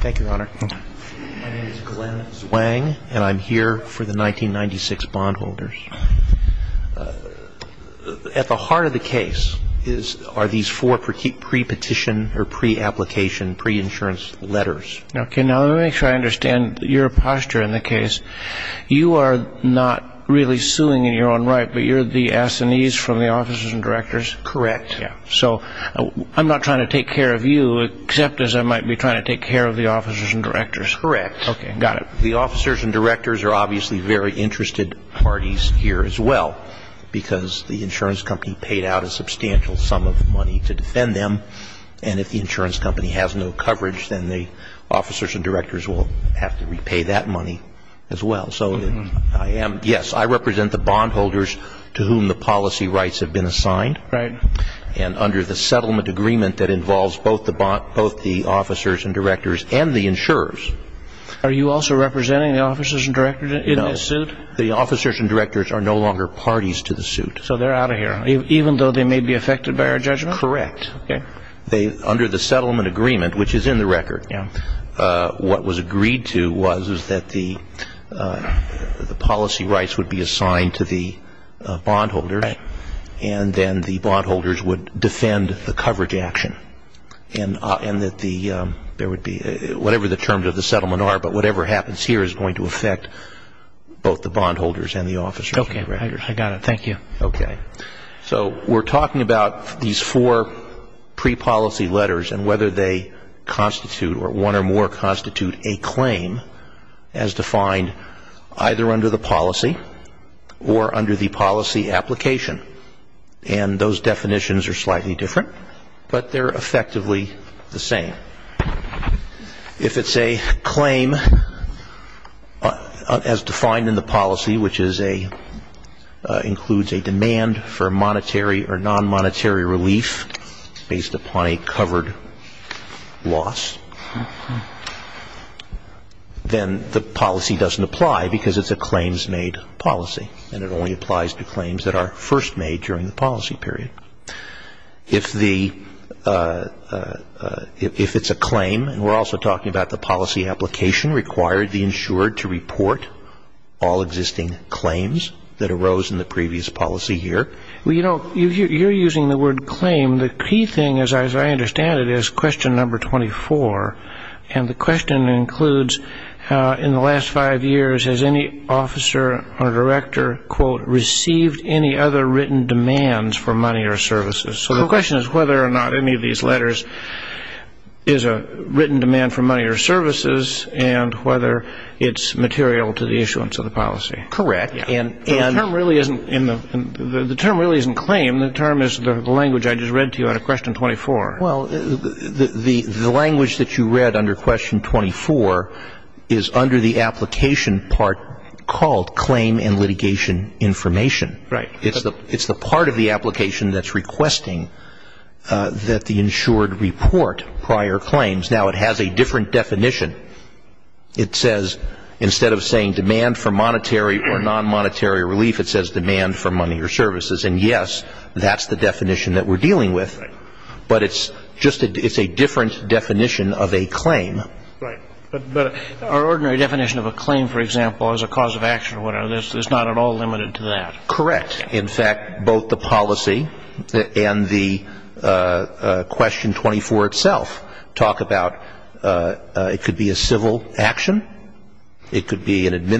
Thank you, Your Honor. My name is Glenn Zwang and I'm here for the 1996 bondholders. At the heart of the case are these four pre-petition or pre-application pre-insurance letters. Okay, now let me make sure I understand your posture in the case. You are not really suing in your own right, but you're the assinees from the officers and directors? Correct. Yeah. I'm not trying to take care of you, except as I might be trying to take care of the officers and directors? Correct. Okay, got it. The officers and directors are obviously very interested parties here as well, because the insurance company paid out a substantial sum of money to defend them. And if the insurance company has no coverage, then the officers and directors will have to repay that money as well. So yes, I represent the bondholders to whom the policy settlement agreement that involves both the officers and directors and the insurers. Are you also representing the officers and directors in this suit? No. The officers and directors are no longer parties to the suit. So they're out of here, even though they may be affected by our judgment? Correct. Okay. Under the settlement agreement, which is in the record, what was agreed to was that the policy rights would be assigned to the bondholders, would defend the coverage action, and that there would be whatever the terms of the settlement are, but whatever happens here is going to affect both the bondholders and the officers and directors. Okay, I got it. Thank you. Okay. So we're talking about these four pre-policy letters and whether they constitute or one or more constitute a claim as defined either under the policy or under the policy application. And those definitions are slightly different, but they're effectively the same. If it's a claim as defined in the policy, which includes a demand for monetary or non-monetary relief based upon a covered loss, then the policy doesn't apply because it's a claims-made policy, and it only applies to claims that are first made during the policy period. If it's a claim, and we're also talking about the policy application, required the insured to report all existing claims that arose in the previous policy year. Well, you know, you're using the word claim. The key thing, as I understand it, is question number 24, and the question includes, in the last five years, has any officer or director, quote, received any other written demands for money or services? So the question is whether or not any of these letters is a written demand for money or services and whether it's material to the issuance of the policy. Correct. And the term really isn't claim. The term is the language I just read to you out of question 24. Well, the language that you read under question 24 is under the application part called claim and litigation information. Right. It's the part of the application that's requesting that the insured report prior claims. Now, it has a different definition. It says, instead of saying demand for monetary or non-monetary relief, it says demand for money or services. And, yes, that's the definition that we're dealing with. But it's just a different definition of a claim. Right. But our ordinary definition of a claim, for example, as a cause of action or whatever, there's not at all limited to that. Correct. In fact, both the policy and the question 24 itself talk about it could be a civil action, it could be a non-claim, it could be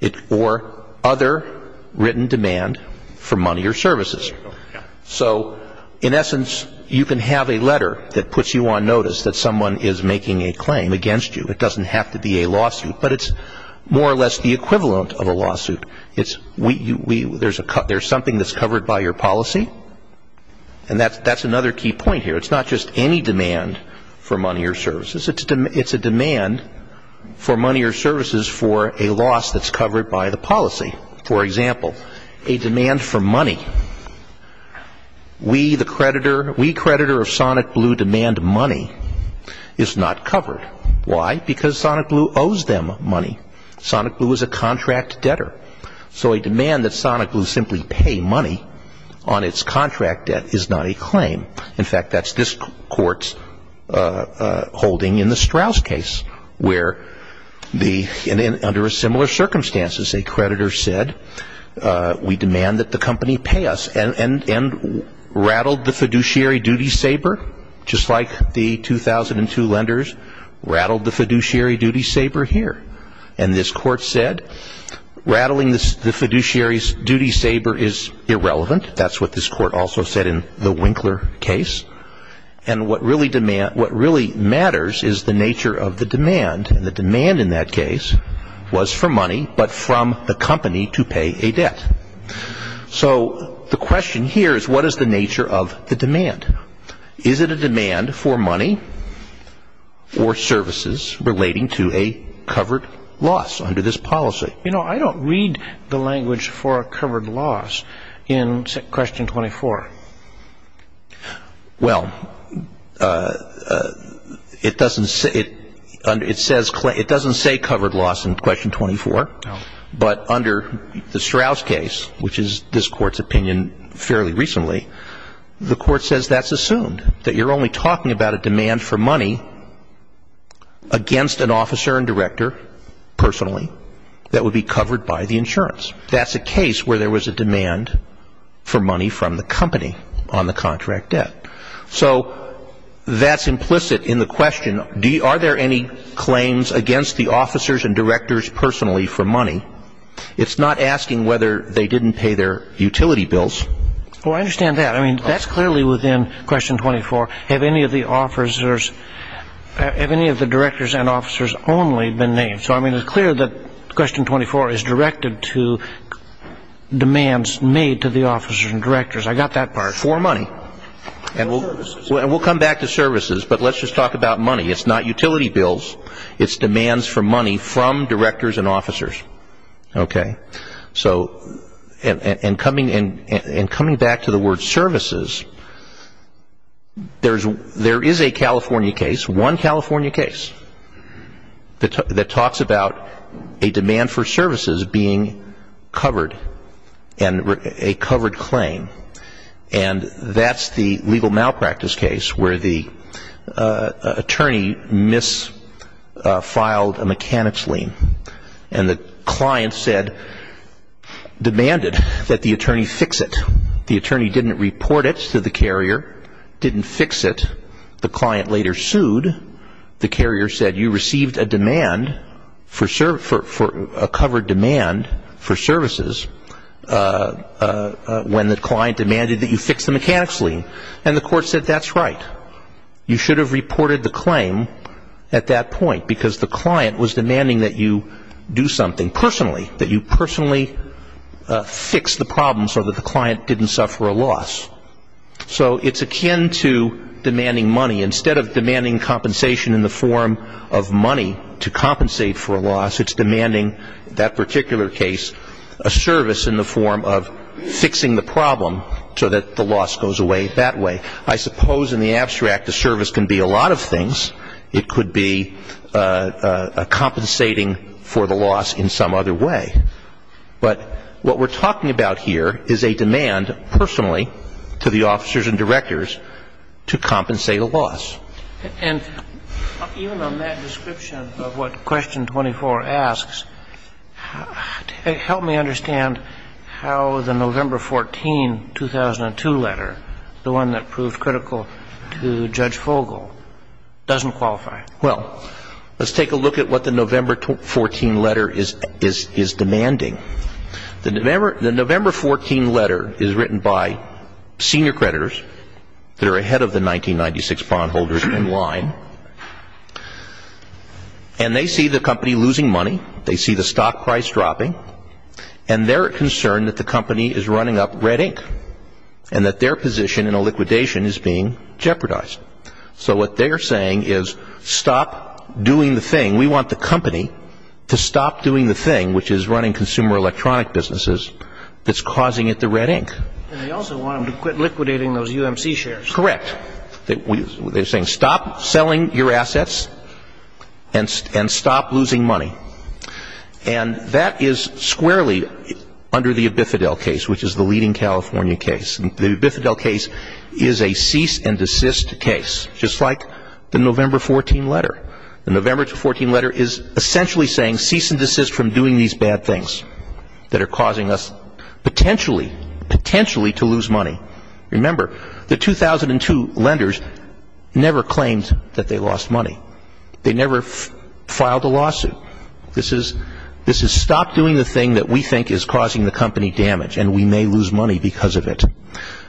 a claim for other written demand for money or services. So, in essence, you can have a letter that puts you on notice that someone is making a claim against you. It doesn't have to be a lawsuit. But it's more or less the equivalent of a lawsuit. There's something that's covered by your policy. And that's another key point here. It's not just any demand for money or services. It's a demand for money or services for a loss that's covered by the policy. For example, a demand for money. We, the creditor, we creditor of Sonic Blue demand money is not covered. Why? Because Sonic Blue owes them money. Sonic Blue is a contract debtor. So, a demand that Sonic Blue simply pay money on its contract debt is not a claim. In fact, that's this court's holding in the Strauss case where the, under similar circumstances, a creditor said, we demand that the company pay us. And rattled the fiduciary duty saber, just like the 2002 lenders, rattled the fiduciary duty saber here. And this court said, rattling the fiduciary duty saber is irrelevant. That's what this court also said in the Winkler case. And what really matters is the nature of the demand. And the demand in that case was for money, but from the company to pay a debt. So, the question here is, what is the nature of the demand? Is it a demand for money or services relating to a covered loss under this policy? You know, I don't read the language for a covered loss in question 24. Well, it doesn't say covered loss in question 24, but under the Strauss case, which is this court's opinion fairly recently, the court says that's assumed. That you're only talking about a demand for money against an officer and director personally that would be covered by the insurance. That's a case where there was a demand for money from the company on the contract debt. So, that's implicit in the question. Are there any claims against the officers and directors personally for money? It's not asking whether they didn't pay their utility bills. Well, I understand that. I mean, that's clearly within question 24. Have any of the officers, have any of the directors and officers only been named? So, I mean, it's clear that question 24 is directed to demands made to the officers and directors. I got that part. For money. And we'll come back to services, but let's just talk about money. It's not utility bills. It's demands for money from services. There is a California case, one California case, that talks about a demand for services being covered and a covered claim. And that's the legal malpractice case where the attorney misfiled a mechanic's lien. And the client said, demanded that the attorney fix it. The attorney didn't report it to the carrier, didn't fix it. The client later sued. The carrier said, you received a demand for a covered demand for services when the client demanded that you fix the mechanic's lien. And the court said, that's right. You should have reported the claim at that point because the client was demanding that you do something personally, that you personally fix the problem so that the client didn't suffer a loss. So it's akin to demanding money. Instead of demanding compensation in the form of money to compensate for a loss, it's demanding that particular case a service in the form of fixing the problem so that the loss goes away that way. I suppose in the abstract the service can be a lot of things. It could be compensating for the loss in some other way. But what we're talking about here is a demand personally to the officers and directors to compensate a loss. And even on that description of what Question 24 asks, help me understand how the November 14, 2002 letter, the one that proved critical to Judge Fogle, doesn't qualify. Well, let's take a look at what the November 14 letter is demanding. The November 14 letter is written by senior creditors that are ahead of the 1996 bondholders in line. And they see the company losing money. They see the stock price dropping. And they're concerned that the company is running up red ink and that their position in a liquidation is being stopped doing the thing. We want the company to stop doing the thing, which is running consumer electronic businesses, that's causing it the red ink. And they also want them to quit liquidating those UMC shares. Correct. They're saying stop selling your assets and stop losing money. And that is squarely under the Abifidel case, which is the leading California case. The Abifidel case is a cease and desist case, just like the November 14 letter. The November 14 letter is essentially saying cease and desist from doing these bad things that are causing us potentially, potentially to lose money. Remember, the 2002 lenders never claimed that they lost money. They never filed a lawsuit. This is stop doing the thing that we think is causing the company damage, and we may lose because of it.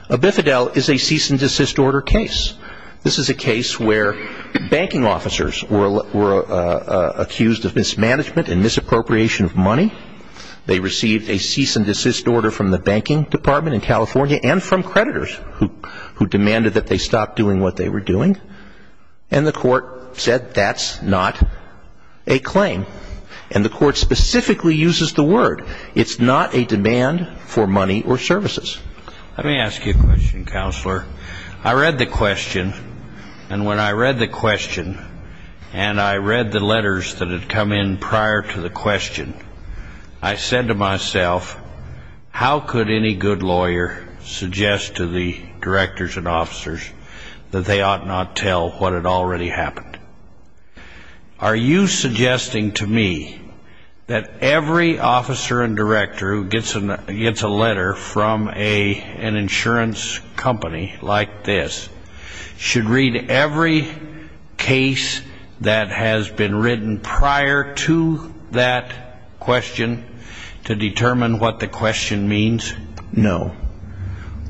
Abifidel is a cease and desist order case. This is a case where banking officers were accused of mismanagement and misappropriation of money. They received a cease and desist order from the banking department in California and from creditors who demanded that they stop doing what they were doing. And the court said that's not a claim. And the court specifically uses the word. It's not a demand for money or services. Let me ask you a question, Counselor. I read the question, and when I read the question, and I read the letters that had come in prior to the question, I said to myself, how could any good lawyer suggest to the directors and officers that they ought not tell what had already happened? Are you suggesting to me that every officer and director who gets a letter from an insurance company like this should read every case that has been written prior to that question to determine what the question means? No.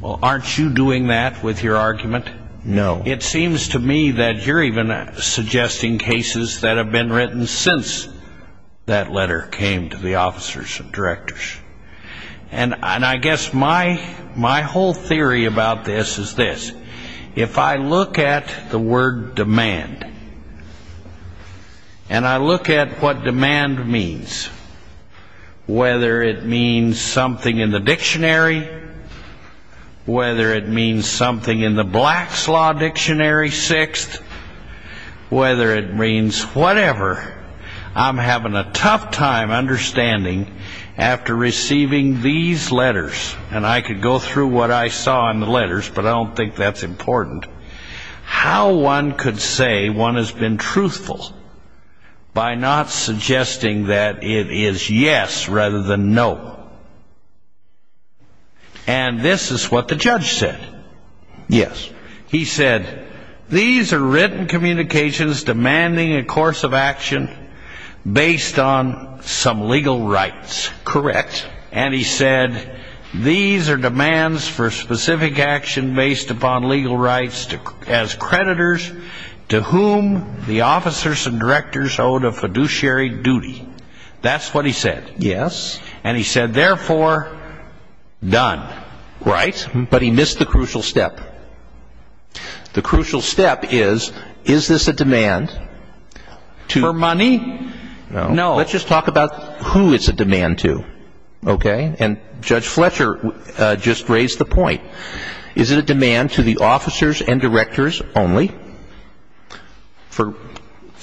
Well, aren't you doing that with your argument? No. It seems to me that you're even suggesting cases that have been written since that letter came to the officers and directors. And I guess my whole theory about this is this. If I look at the word demand, and I look at what demand means, whether it means something in the Black's Law Dictionary 6th, whether it means whatever, I'm having a tough time understanding after receiving these letters, and I could go through what I saw in the letters, but I don't think that's important, how one could say one has been truthful by not suggesting that it is yes rather than no. And this is what the judge said. Yes. He said, these are written communications demanding a course of action based on some legal rights. Correct. And he said, these are demands for specific action based upon legal rights as creditors to whom the officers and directors own a fiduciary duty. That's what he said. Yes. And he said, therefore, done. Right. But he missed the crucial step. The crucial step is, is this a demand? For money? No. Let's just talk about who it's a demand to. Okay. And Judge Fletcher just raised the point. Is it a demand to the officers and directors only? For,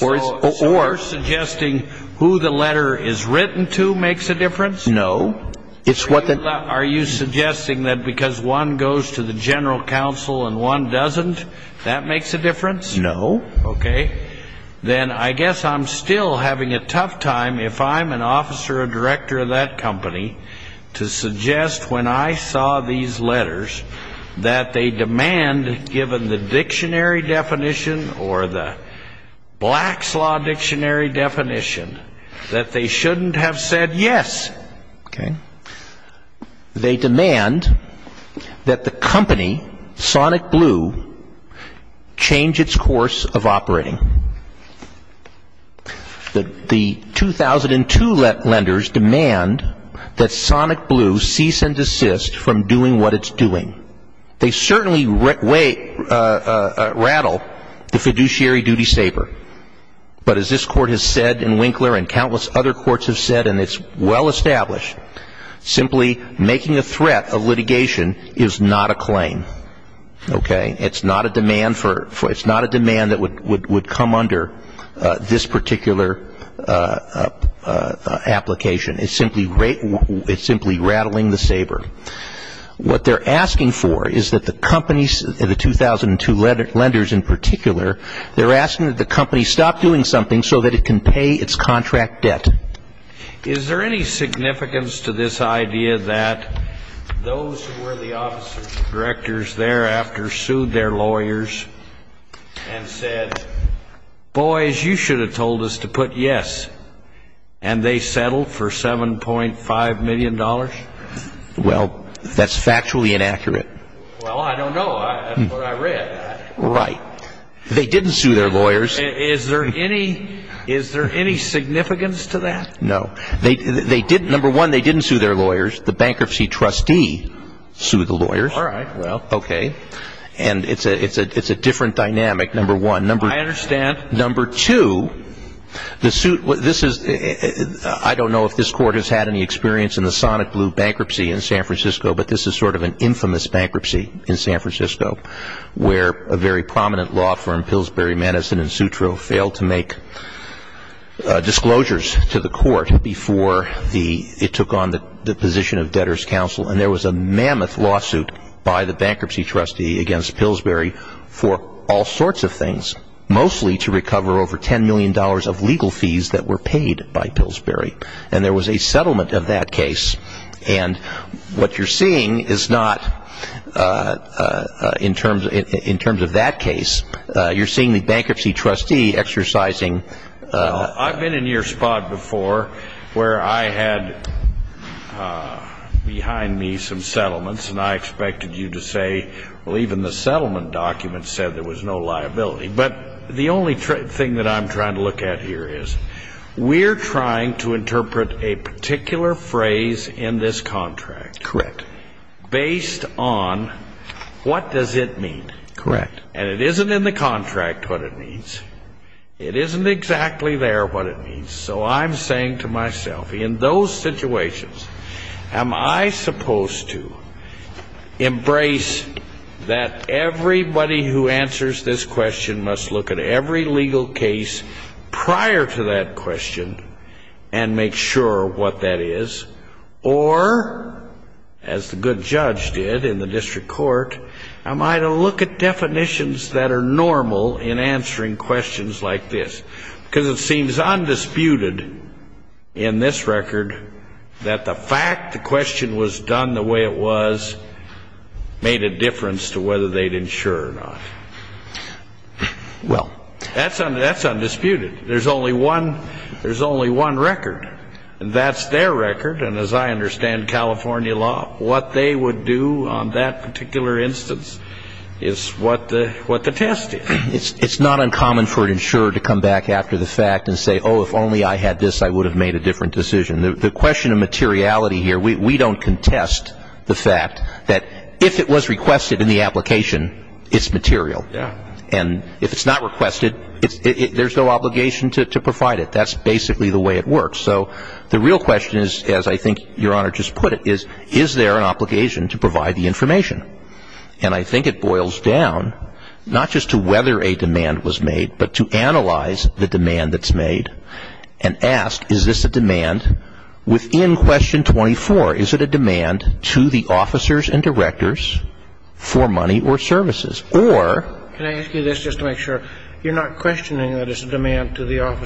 or? So you're suggesting who the letter is written to makes a difference? No. It's what the. Are you suggesting that because one goes to the general counsel and one doesn't, that makes a difference? No. Okay. Then I guess I'm still having a tough time if I'm an officer, a director of that company, to suggest when I saw these letters that they demand, given the dictionary definition or the Black's Law dictionary definition, that they shouldn't have said yes. Okay. They demand that the company, Sonic Blue, change its course of operating. The 2002 lenders demand that Sonic Blue cease and desist from doing what it's doing. They certainly rattle the fiduciary duty saber. But as this court has said in Winkler and countless other courts have said, and it's well established, simply making a threat of litigation is not a claim. Okay. It's not a demand for, it's not a demand that would come under this particular application. It's simply rattling the saber. What they're asking for is that the companies, the 2002 lenders in particular, they're asking that the company stop doing something so that it can pay its contract debt. Is there any significance to this idea that those who were the officers and directors thereafter sued their lawyers and said, boys, you should have told us to put yes, and they settled for $7.5 million? Well, that's factually inaccurate. Well, I don't know. That's what I read. Right. They didn't sue their lawyers. Is there any significance to that? No. They didn't. Number one, they didn't sue their lawyers. The bankruptcy trustee sued the lawyers. All right. Well, okay. And it's a different dynamic, number one. I understand. Number two, I don't know if this court has had any experience in the Sonic Blue bankruptcy in San Francisco, but this is sort of an infamous bankruptcy in San Francisco where a very prominent law firm, Pillsbury, Madison & Sutro, failed to make disclosures to the court before it took on the position of debtor's counsel. And there was a mammoth lawsuit by the bankruptcy trustee against Pillsbury for all sorts of things, mostly to recover over $10 million of legal fees that were paid by Pillsbury. And there was a settlement of that case. And what you're seeing is not in terms of that case. You're seeing the bankruptcy trustee exercising... I've been in your spot before where I had behind me some settlements, and I expected you to say, well, even the settlement document said there was no liability. But the only thing that I'm trying to look at here is we're trying to interpret a particular phrase in this contract... Correct. ...based on what does it mean. Correct. And it isn't in the contract what it means. It isn't exactly there what it means. So I'm saying to myself, in those situations, am I supposed to embrace that everybody who answers this question must look at every legal case prior to that question and make sure what that is, or, as the good judge did in the district court, am I to look at definitions that are normal in answering questions like this? Because it seems undisputed in this record that the fact the question was done the way it was made a difference to whether they'd insure or not. Well... That's undisputed. There's only one record, and that's their record, and as I understand California law, what they would do on that particular instance is what the test is. It's not uncommon for an insurer to come back after the fact and say, oh, if only I had this, I would have made a different decision. The question of materiality here, we don't contest the fact that if it was requested in the application, it's material. Yeah. And if it's not requested, there's no obligation to provide it. That's basically the way it works. So the real question is, as I think Your Honor just put it, is, is there an obligation to provide the information? And I think it boils down not just to whether a demand was made, but to analyze the demand that's made and ask, is this a demand within Question 24? Is it a demand to the officers and directors for money or services? Or... Can I ask you this just to make sure? You're not questioning that it's a demand to the I'm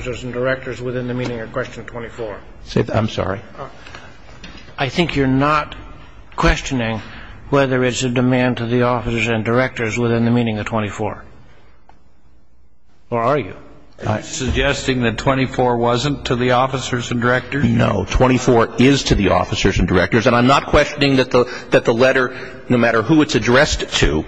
sorry. I think you're not questioning whether it's a demand to the officers and directors within the meaning of 24. Or are you? I'm suggesting that 24 wasn't to the officers and directors. No. 24 is to the officers and directors. And I'm not questioning that the letter, no matter who it's addressed to,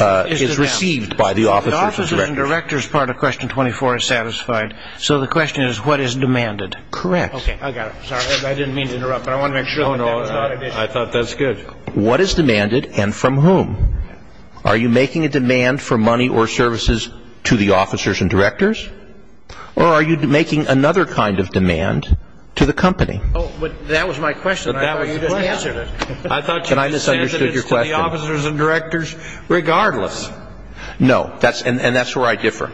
is received by the officers and directors. The officers and directors part of Question 24 is satisfied. So the question is, what is demanded? Correct. Okay. I got it. Sorry. I didn't mean to interrupt, but I want to make sure. I thought that's good. What is demanded and from whom? Are you making a demand for money or services to the officers and directors? Or are you making another kind of demand to the company? Oh, but that was my question. I thought you just said that it's to the officers and directors regardless. No, that's and that's where I differ.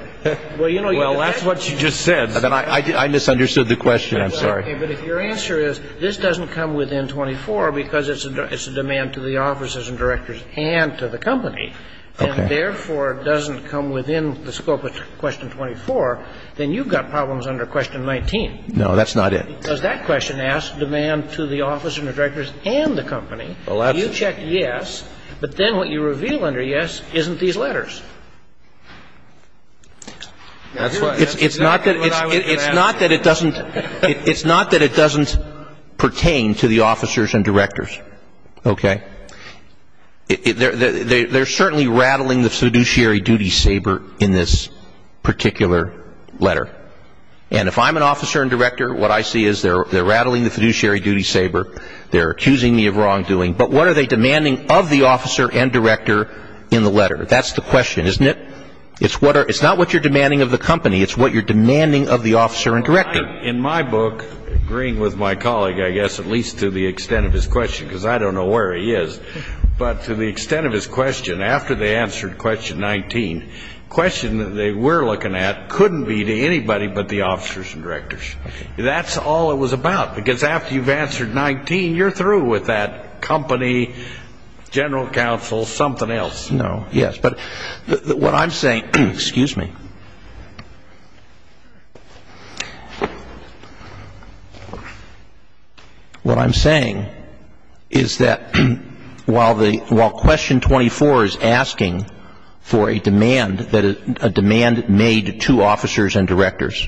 Well, you know, that's what you just said. I misunderstood the question. I'm sorry. But if your answer is, this doesn't come within 24 because it's a demand to the officers and directors and to the company, and therefore doesn't come within the scope of Question 24, then you've got problems under Question 19. No, that's not it. Because that question asks demand to the officers and directors and the company. Well, that's it. You check yes, but then what you reveal under yes isn't these letters. That's why it's not that it's not that it doesn't it's not that it doesn't pertain to the officers and directors. OK, they're certainly rattling the fiduciary duty saber in this particular letter. And if I'm an officer and director, what I see is they're rattling the fiduciary duty saber. They're accusing me of wrongdoing. But what are they demanding of the officer and director in the letter? That's the question, isn't it? It's what it's not what you're demanding of the company. It's what you're demanding of the officer and director. In my book, agreeing with my colleague, I guess, at least to the extent of his question, because I don't know where he is. But to the extent of his question, after they answered Question 19, question that they were looking at couldn't be to anybody but the officers and directors. That's all it was about, because after you've answered 19, you're through with that company, general counsel, something else. No, yes. But what I'm saying, excuse me. What I'm saying is that while the while Question 24 is asking for a demand that a demand made to officers and directors.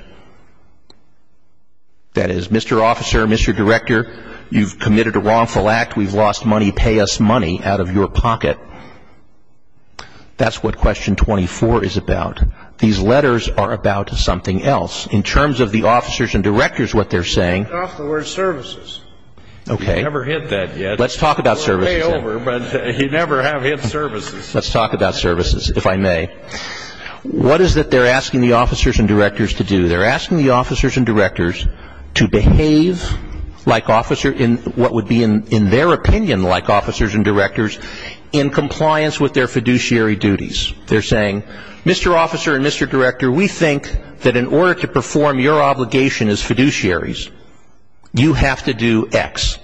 That is, Mr. Officer, Mr. Director, you've committed a wrongful act. We've lost money. Pay us money out of your pocket. That's what Question 24 is about. These letters are about something else. In terms of the officers and directors, what they're saying. Off the word services. Okay. Never hit that yet. Let's talk about services. Pay over, but you never have hit services. Let's talk about services, if I may. What is it they're asking the officers and directors to do? They're asking the officers and directors to behave like officer in what would be in their opinion like officers and directors in compliance with their fiduciary duties. They're saying, Mr. Officer and Mr. Director, we think that in order to perform your obligation as fiduciaries, you have to do X.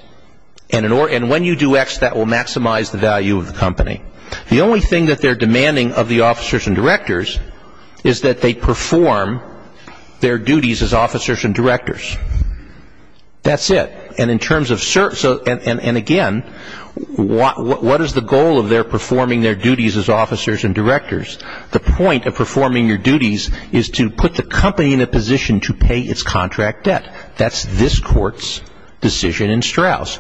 And when you do X, that will maximize the value of the company. The only thing that they're demanding of the officers and directors is that they perform their duties as officers and directors. That's it. And in terms of, and again, what is the goal of their performing their duties as officers and directors? The point of performing your duties is to put the company in a position to pay its contract debt. That's this court's decision in Strauss.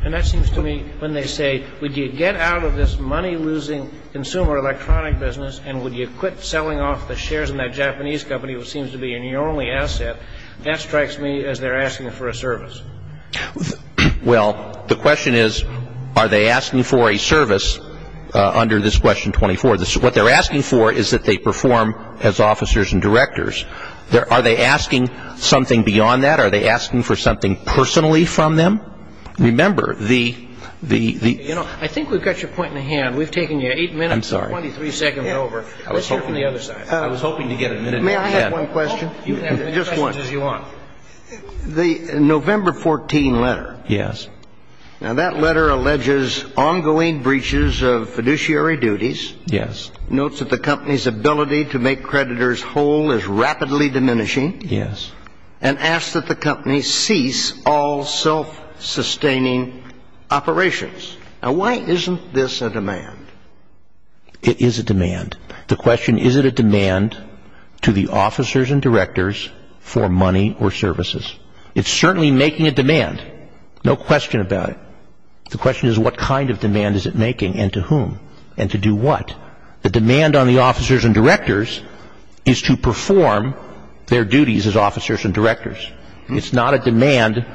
And that seems to me when they say, would you get out of this money losing consumer electronic business and would you quit selling off the shares in that Japanese company which seems to be your only asset? That strikes me as they're asking for a service. Well, the question is, are they asking for a service under this question 24? What they're asking for is that they perform as officers and directors. Are they asking something beyond that? Are they asking for something personally from them? Remember, the, the, the, you know, I think we've got your point in the hand. We've taken you eight minutes, 23 seconds over. Let's hear from the other side. I was hoping to get a minute. May I have one question? Just one. The November 14 letter. Yes. Now that letter alleges ongoing breaches of fiduciary duties. Yes. Notes that the company's ability to make creditors whole is rapidly diminishing. Yes. And asked that the company cease all self-sustaining operations. Now, why isn't this a demand? It is a demand. The question, is it a demand to the officers and directors for money or services? It's certainly making a demand. No question about it. The question is, what kind of demand is it making and to whom and to do what? The demand on the officers and directors is to perform their duties as officers and directors. It's not a demand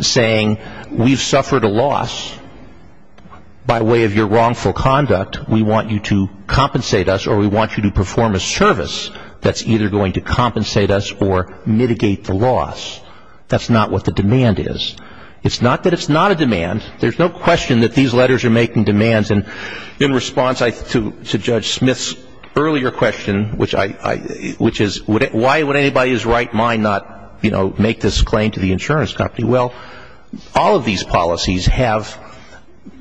saying we've suffered a loss by way of your wrongful conduct. We want you to compensate us or we want you to perform a service that's either going to compensate us or mitigate the loss. That's not what the demand is. It's not that it's not a demand. There's no question that these letters are making demands. And in response to Judge Smith's earlier question, which is why would anybody who's right mind not, you know, make this claim to the insurance company? All of these policies have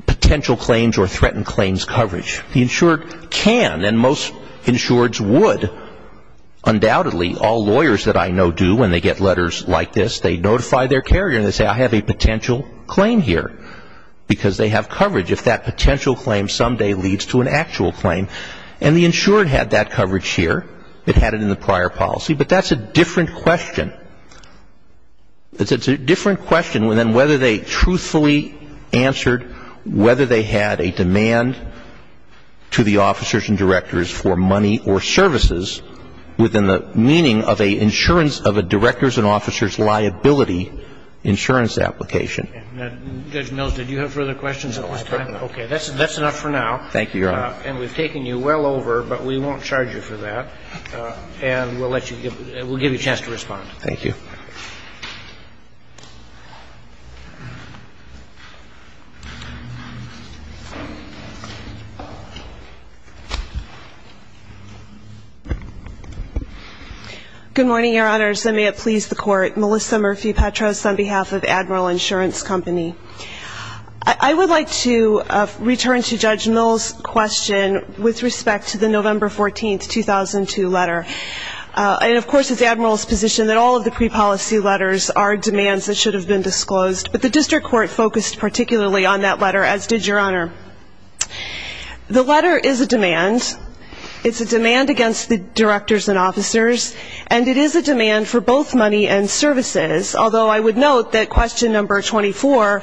potential claims or threatened claims coverage. The insured can and most insureds would. Undoubtedly, all lawyers that I know do when they get letters like this, they notify their carrier and they say, I have a potential claim here. Because they have coverage if that potential claim someday leads to an actual claim. And the insured had that coverage here. It had it in the prior policy. But that's a different question. It's a different question than whether they truthfully answered whether they had a demand to the officers and directors for money or services within the meaning of a insurance of a director's and officer's liability insurance application. And Judge Mills, did you have further questions at this time? No. Okay. That's enough for now. Thank you, Your Honor. And we've taken you well over, but we won't charge you for that. And we'll let you give, we'll give you a chance to respond. Thank you. Thank you. Good morning, Your Honors. I may have pleased the court. Melissa Murphy-Petros on behalf of Admiral Insurance Company. I would like to return to Judge Mills' question with respect to the November 14, 2002 letter. And of course, it's Admiral's position that all of the pre-policy letters are demands that should have been disclosed. But the district court focused particularly on that letter, as did Your Honor. The letter is a demand. It's a demand against the directors and officers. And it is a demand for both money and services. Although I would note that question number 24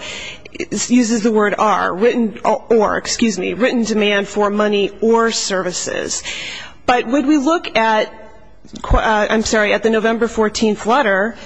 uses the word are, written or, excuse me, written demand for money or services. But when we look at, I'm sorry, at the November 14 letter,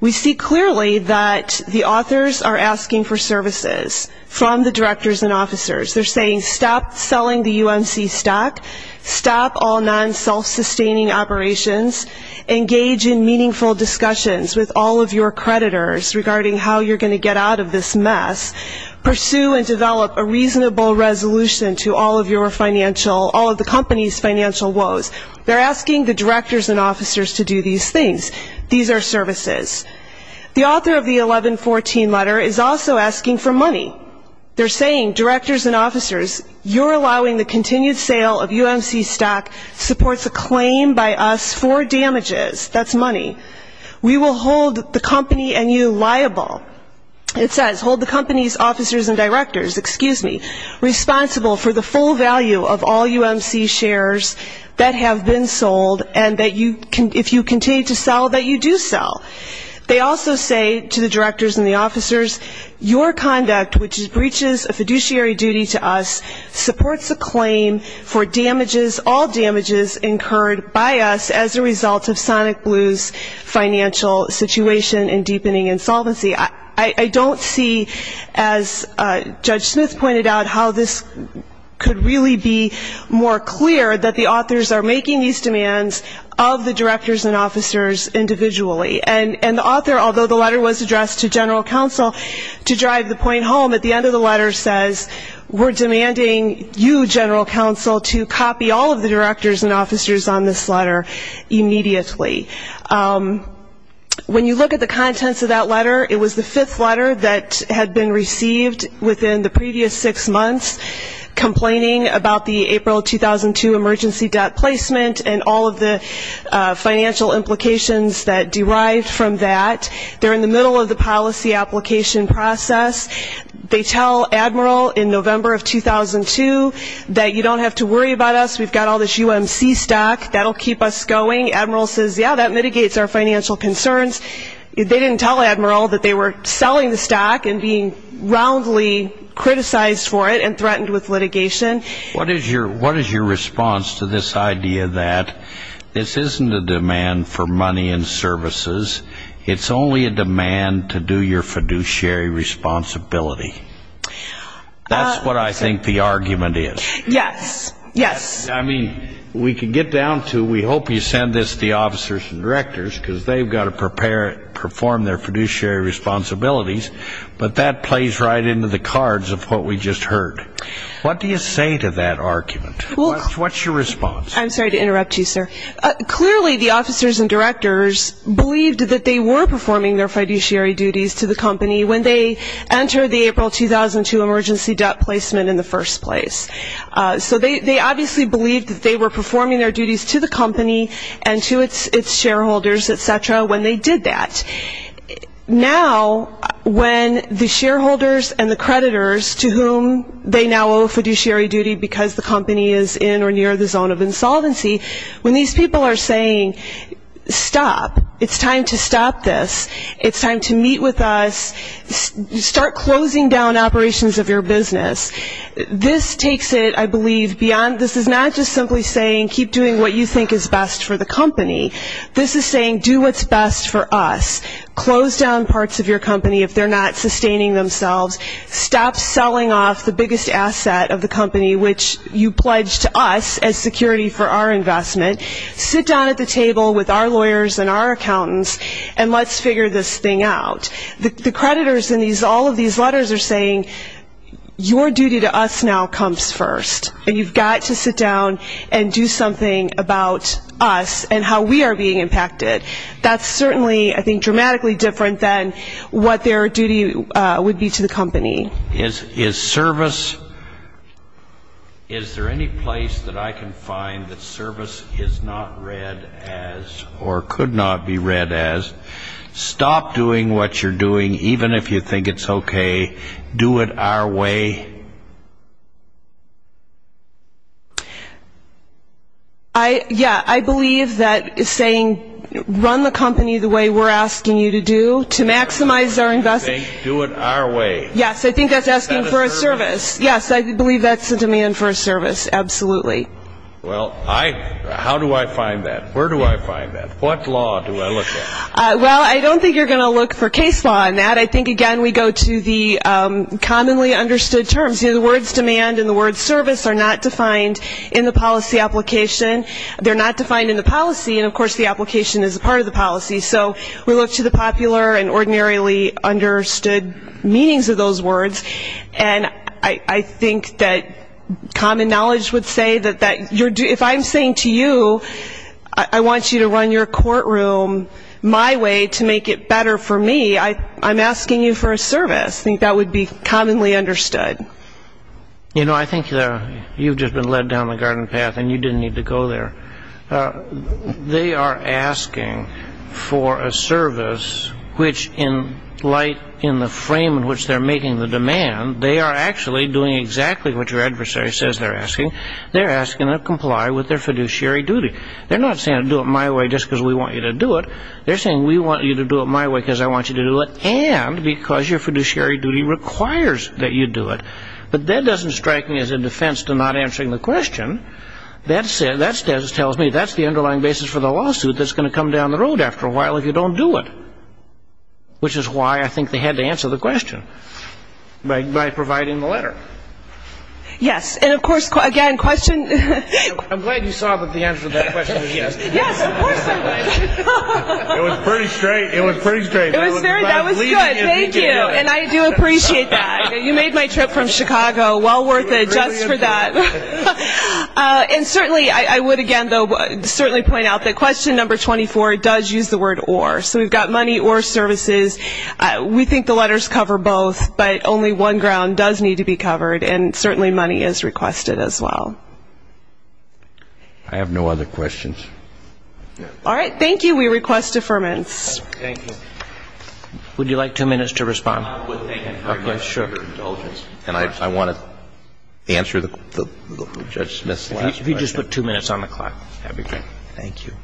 we see clearly that the authors are asking for services from the directors and officers. They're saying, stop selling the UNC stock. Stop all non-self-sustaining operations. Engage in meaningful discussions with all of your creditors regarding how you're going to get out of this mess. Pursue and develop a reasonable resolution to all of your financial, all of the companies financial woes. They're asking the directors and officers to do these things. These are services. The author of the 1114 letter is also asking for money. They're saying, directors and officers, you're allowing the continued sale of UNC stock supports a claim by us for damages. That's money. We will hold the company and you liable. It says, hold the company's officers and directors, excuse me, responsible for the full value of all UNC shares that have been sold and that if you continue to sell, that you do sell. They also say to the directors and the officers, your conduct, which breaches a fiduciary duty to us, supports a claim for damages, all damages incurred by us as a result of Sonic Blue's financial situation and deepening insolvency. I don't see, as Judge Smith pointed out, how this could really be more clear that the authors are making these demands of the directors and officers individually. And the author, although the letter was addressed to general counsel, to drive the point home, at the end of the letter says, we're demanding you, general counsel, to copy all of the directors and officers on this letter immediately. When you look at the contents of that letter, it was the fifth letter that had been received within the previous six months, complaining about the April 2002 emergency debt placement and all of the financial implications that derived from that. They're in the middle of the policy application process. They tell Admiral in November of 2002 that you don't have to worry about us. We've got all this UMC stock. That'll keep us going. Admiral says, yeah, that mitigates our financial concerns. They didn't tell Admiral that they were selling the stock and being roundly criticized for it and threatened with litigation. What is your response to this idea that this isn't a demand for money and services? It's only a demand to do your fiduciary responsibility? That's what I think the argument is. Yes. Yes. We can get down to, we hope you send this to the officers and directors, because they've got to prepare and perform their fiduciary responsibilities. But that plays right into the cards of what we just heard. What do you say to that argument? What's your response? I'm sorry to interrupt you, sir. Clearly, the officers and directors believed that they were performing their fiduciary duties to the company when they entered the April 2002 emergency debt placement in the first place. So they obviously believed that they were performing their duties to the company and to its shareholders, et cetera, when they did that. Now, when the shareholders and the creditors to whom they now owe fiduciary duty because the company is in or near the zone of insolvency, when these people are saying, stop, it's time to stop this, it's time to meet with us, start closing down operations of your business, this takes it, I believe, beyond, this is not just simply saying keep doing what you think is best for the company. This is saying do what's best for us. Close down parts of your company if they're not sustaining themselves. Stop selling off the biggest asset of the company, which you pledged to us as security for our investment. Sit down at the table with our lawyers and our accountants and let's figure this thing out. The creditors in all of these letters are saying your duty to us now comes first. And you've got to sit down and do something about us and how we are being impacted. That's certainly, I think, dramatically different than what their duty would be to the company. Is service, is there any place that I can find that service is not read as or could not be read as? Stop doing what you're doing even if you think it's okay. Do it our way. I, yeah, I believe that is saying run the company the way we're asking you to do to maximize our investment. Do it our way. Yes, I think that's asking for a service. Yes, I believe that's the demand for a service. Absolutely. Well, I, how do I find that? Where do I find that? What law do I look at? Well, I don't think you're going to look for case law on that. I think, again, we go to the commonly understood terms. You know, the words demand and the words service are not defined in the policy application. They're not defined in the policy. And, of course, the application is a part of the policy. So we look to the popular and ordinarily understood meanings of those words. And I think that common knowledge would say that if I'm saying to you, I want you to court room my way to make it better for me, I'm asking you for a service. I think that would be commonly understood. You know, I think that you've just been led down the garden path and you didn't need to go there. They are asking for a service, which in light in the frame in which they're making the demand, they are actually doing exactly what your adversary says they're asking. They're asking to comply with their fiduciary duty. They're not saying, do it my way just because we want you to do it. They're saying, we want you to do it my way because I want you to do it and because your fiduciary duty requires that you do it. But that doesn't strike me as a defense to not answering the question. That tells me that's the underlying basis for the lawsuit that's going to come down the road after a while if you don't do it, which is why I think they had to answer the question by providing the letter. Yes, and of course, again, question. I'm glad you saw that the answer to that question was yes. Yes, of course I would. It was pretty straight. It was pretty straight. It was very, that was good. Thank you. And I do appreciate that. You made my trip from Chicago well worth it just for that. And certainly, I would again, though, certainly point out that question number 24 does use the word or. So we've got money or services. We think the letters cover both, but only one ground does need to be covered. And certainly, money is requested as well. I have no other questions. All right. Thank you. We request deferments. Would you like two minutes to respond? I would thank you for your indulgence. And I want to answer the Judge Smith's last question. If you just put two minutes on the clock, that would be great. Thank you.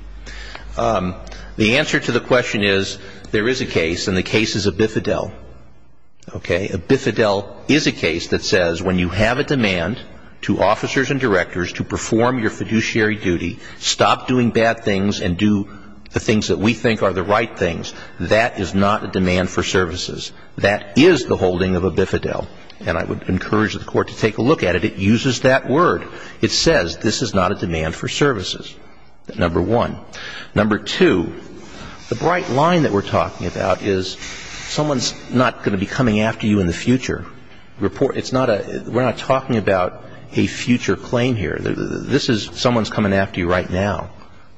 The answer to the question is there is a case, and the case is a bifidel. Okay. A bifidel is a case that says when you have a demand to officers and directors to perform your fiduciary duty, stop doing bad things, and do the things that we think are the right things, that is not a demand for services. That is the holding of a bifidel. And I would encourage the Court to take a look at it. It uses that word. It says this is not a demand for services. Number one. Number two, the bright line that we're talking about is someone's not going to be coming after you in the future. It's not a we're not talking about a future claim here. This is someone's coming after you right now.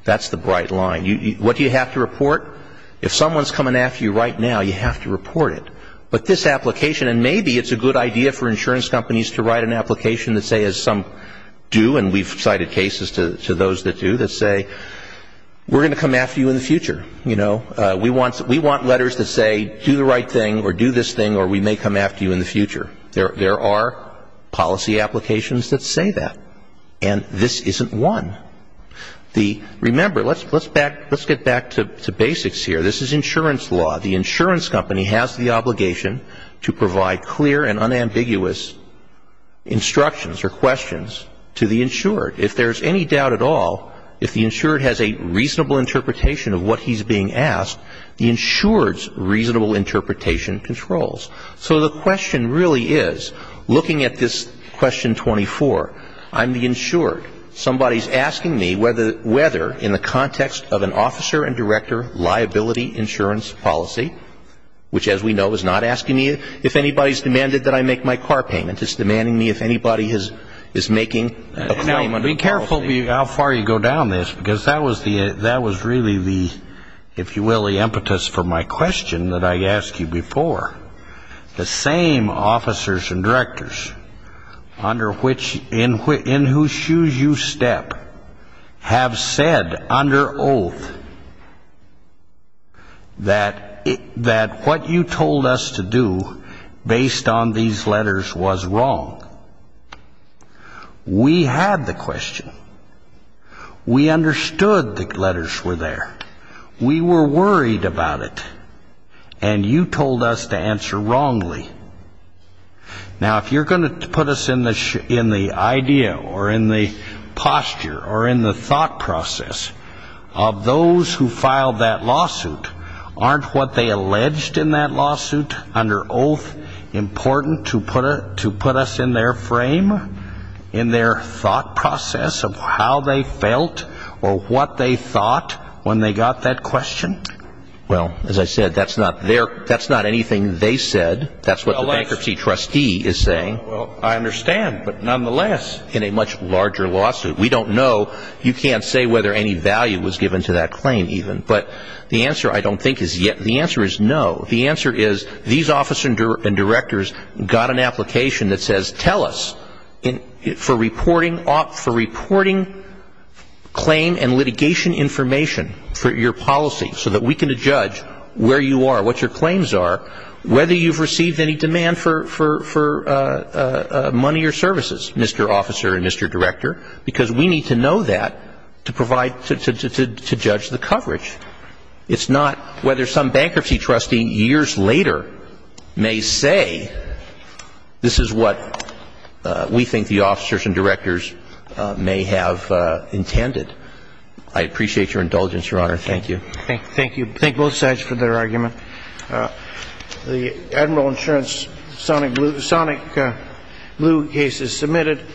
That's the bright line. What do you have to report? If someone's coming after you right now, you have to report it. But this application, and maybe it's a good idea for insurance companies to write an application that says some do, and we've cited cases to those that do, that say we're going to come after you in the future. You know, we want letters that say do the right thing or do this thing or we may come after you in the future. There are policy applications that say that. And this isn't one. Remember, let's get back to basics here. This is insurance law. The insurance company has the obligation to provide clear and unambiguous instructions or questions to the insured. If there's any doubt at all, if the insured has a reasonable interpretation of what he's being asked, the insured's reasonable interpretation controls. So the question really is, looking at this question 24, I'm the insured. Somebody's asking me whether in the context of an officer and director liability insurance policy, which as we know is not asking me if anybody's demanded that I make my car payment. It's demanding me if anybody is making a claim under the policy. Now, be careful how far you go down this because that was really the, if you will, the impetus for my question that I asked you before. The same officers and directors under which, in whose shoes you step, have said under oath that what you told us to do based on these letters was wrong. We had the question. We understood the letters were there. We were worried about it. And you told us to answer wrongly. Now, if you're going to put us in the idea or in the posture or in the thought process of those who filed that lawsuit, aren't what they alleged in that lawsuit under oath important to put us in their frame, in their thought process of how they felt or what they thought when they got that question? Well, as I said, that's not anything they said. That's what the bankruptcy trustee is saying. Well, I understand, but nonetheless. In a much larger lawsuit. We don't know. You can't say whether any value was given to that claim even. But the answer I don't think is yet. The answer is no. The answer is these officers and directors got an application that says tell us for reporting claim and litigation information for your policy so that we can judge where you are, what your claims are, whether you've received any demand for money or services, Mr. Officer and Mr. Director. Because we need to know that to provide to judge the coverage. It's not whether some bankruptcy trustee years later may say this is what we think the officers and directors may have intended. I appreciate your indulgence, Your Honor. Thank you. Thank you. Thank both sides for their argument. Uh, the admiral insurance sonic blue sonic blue cases submitted.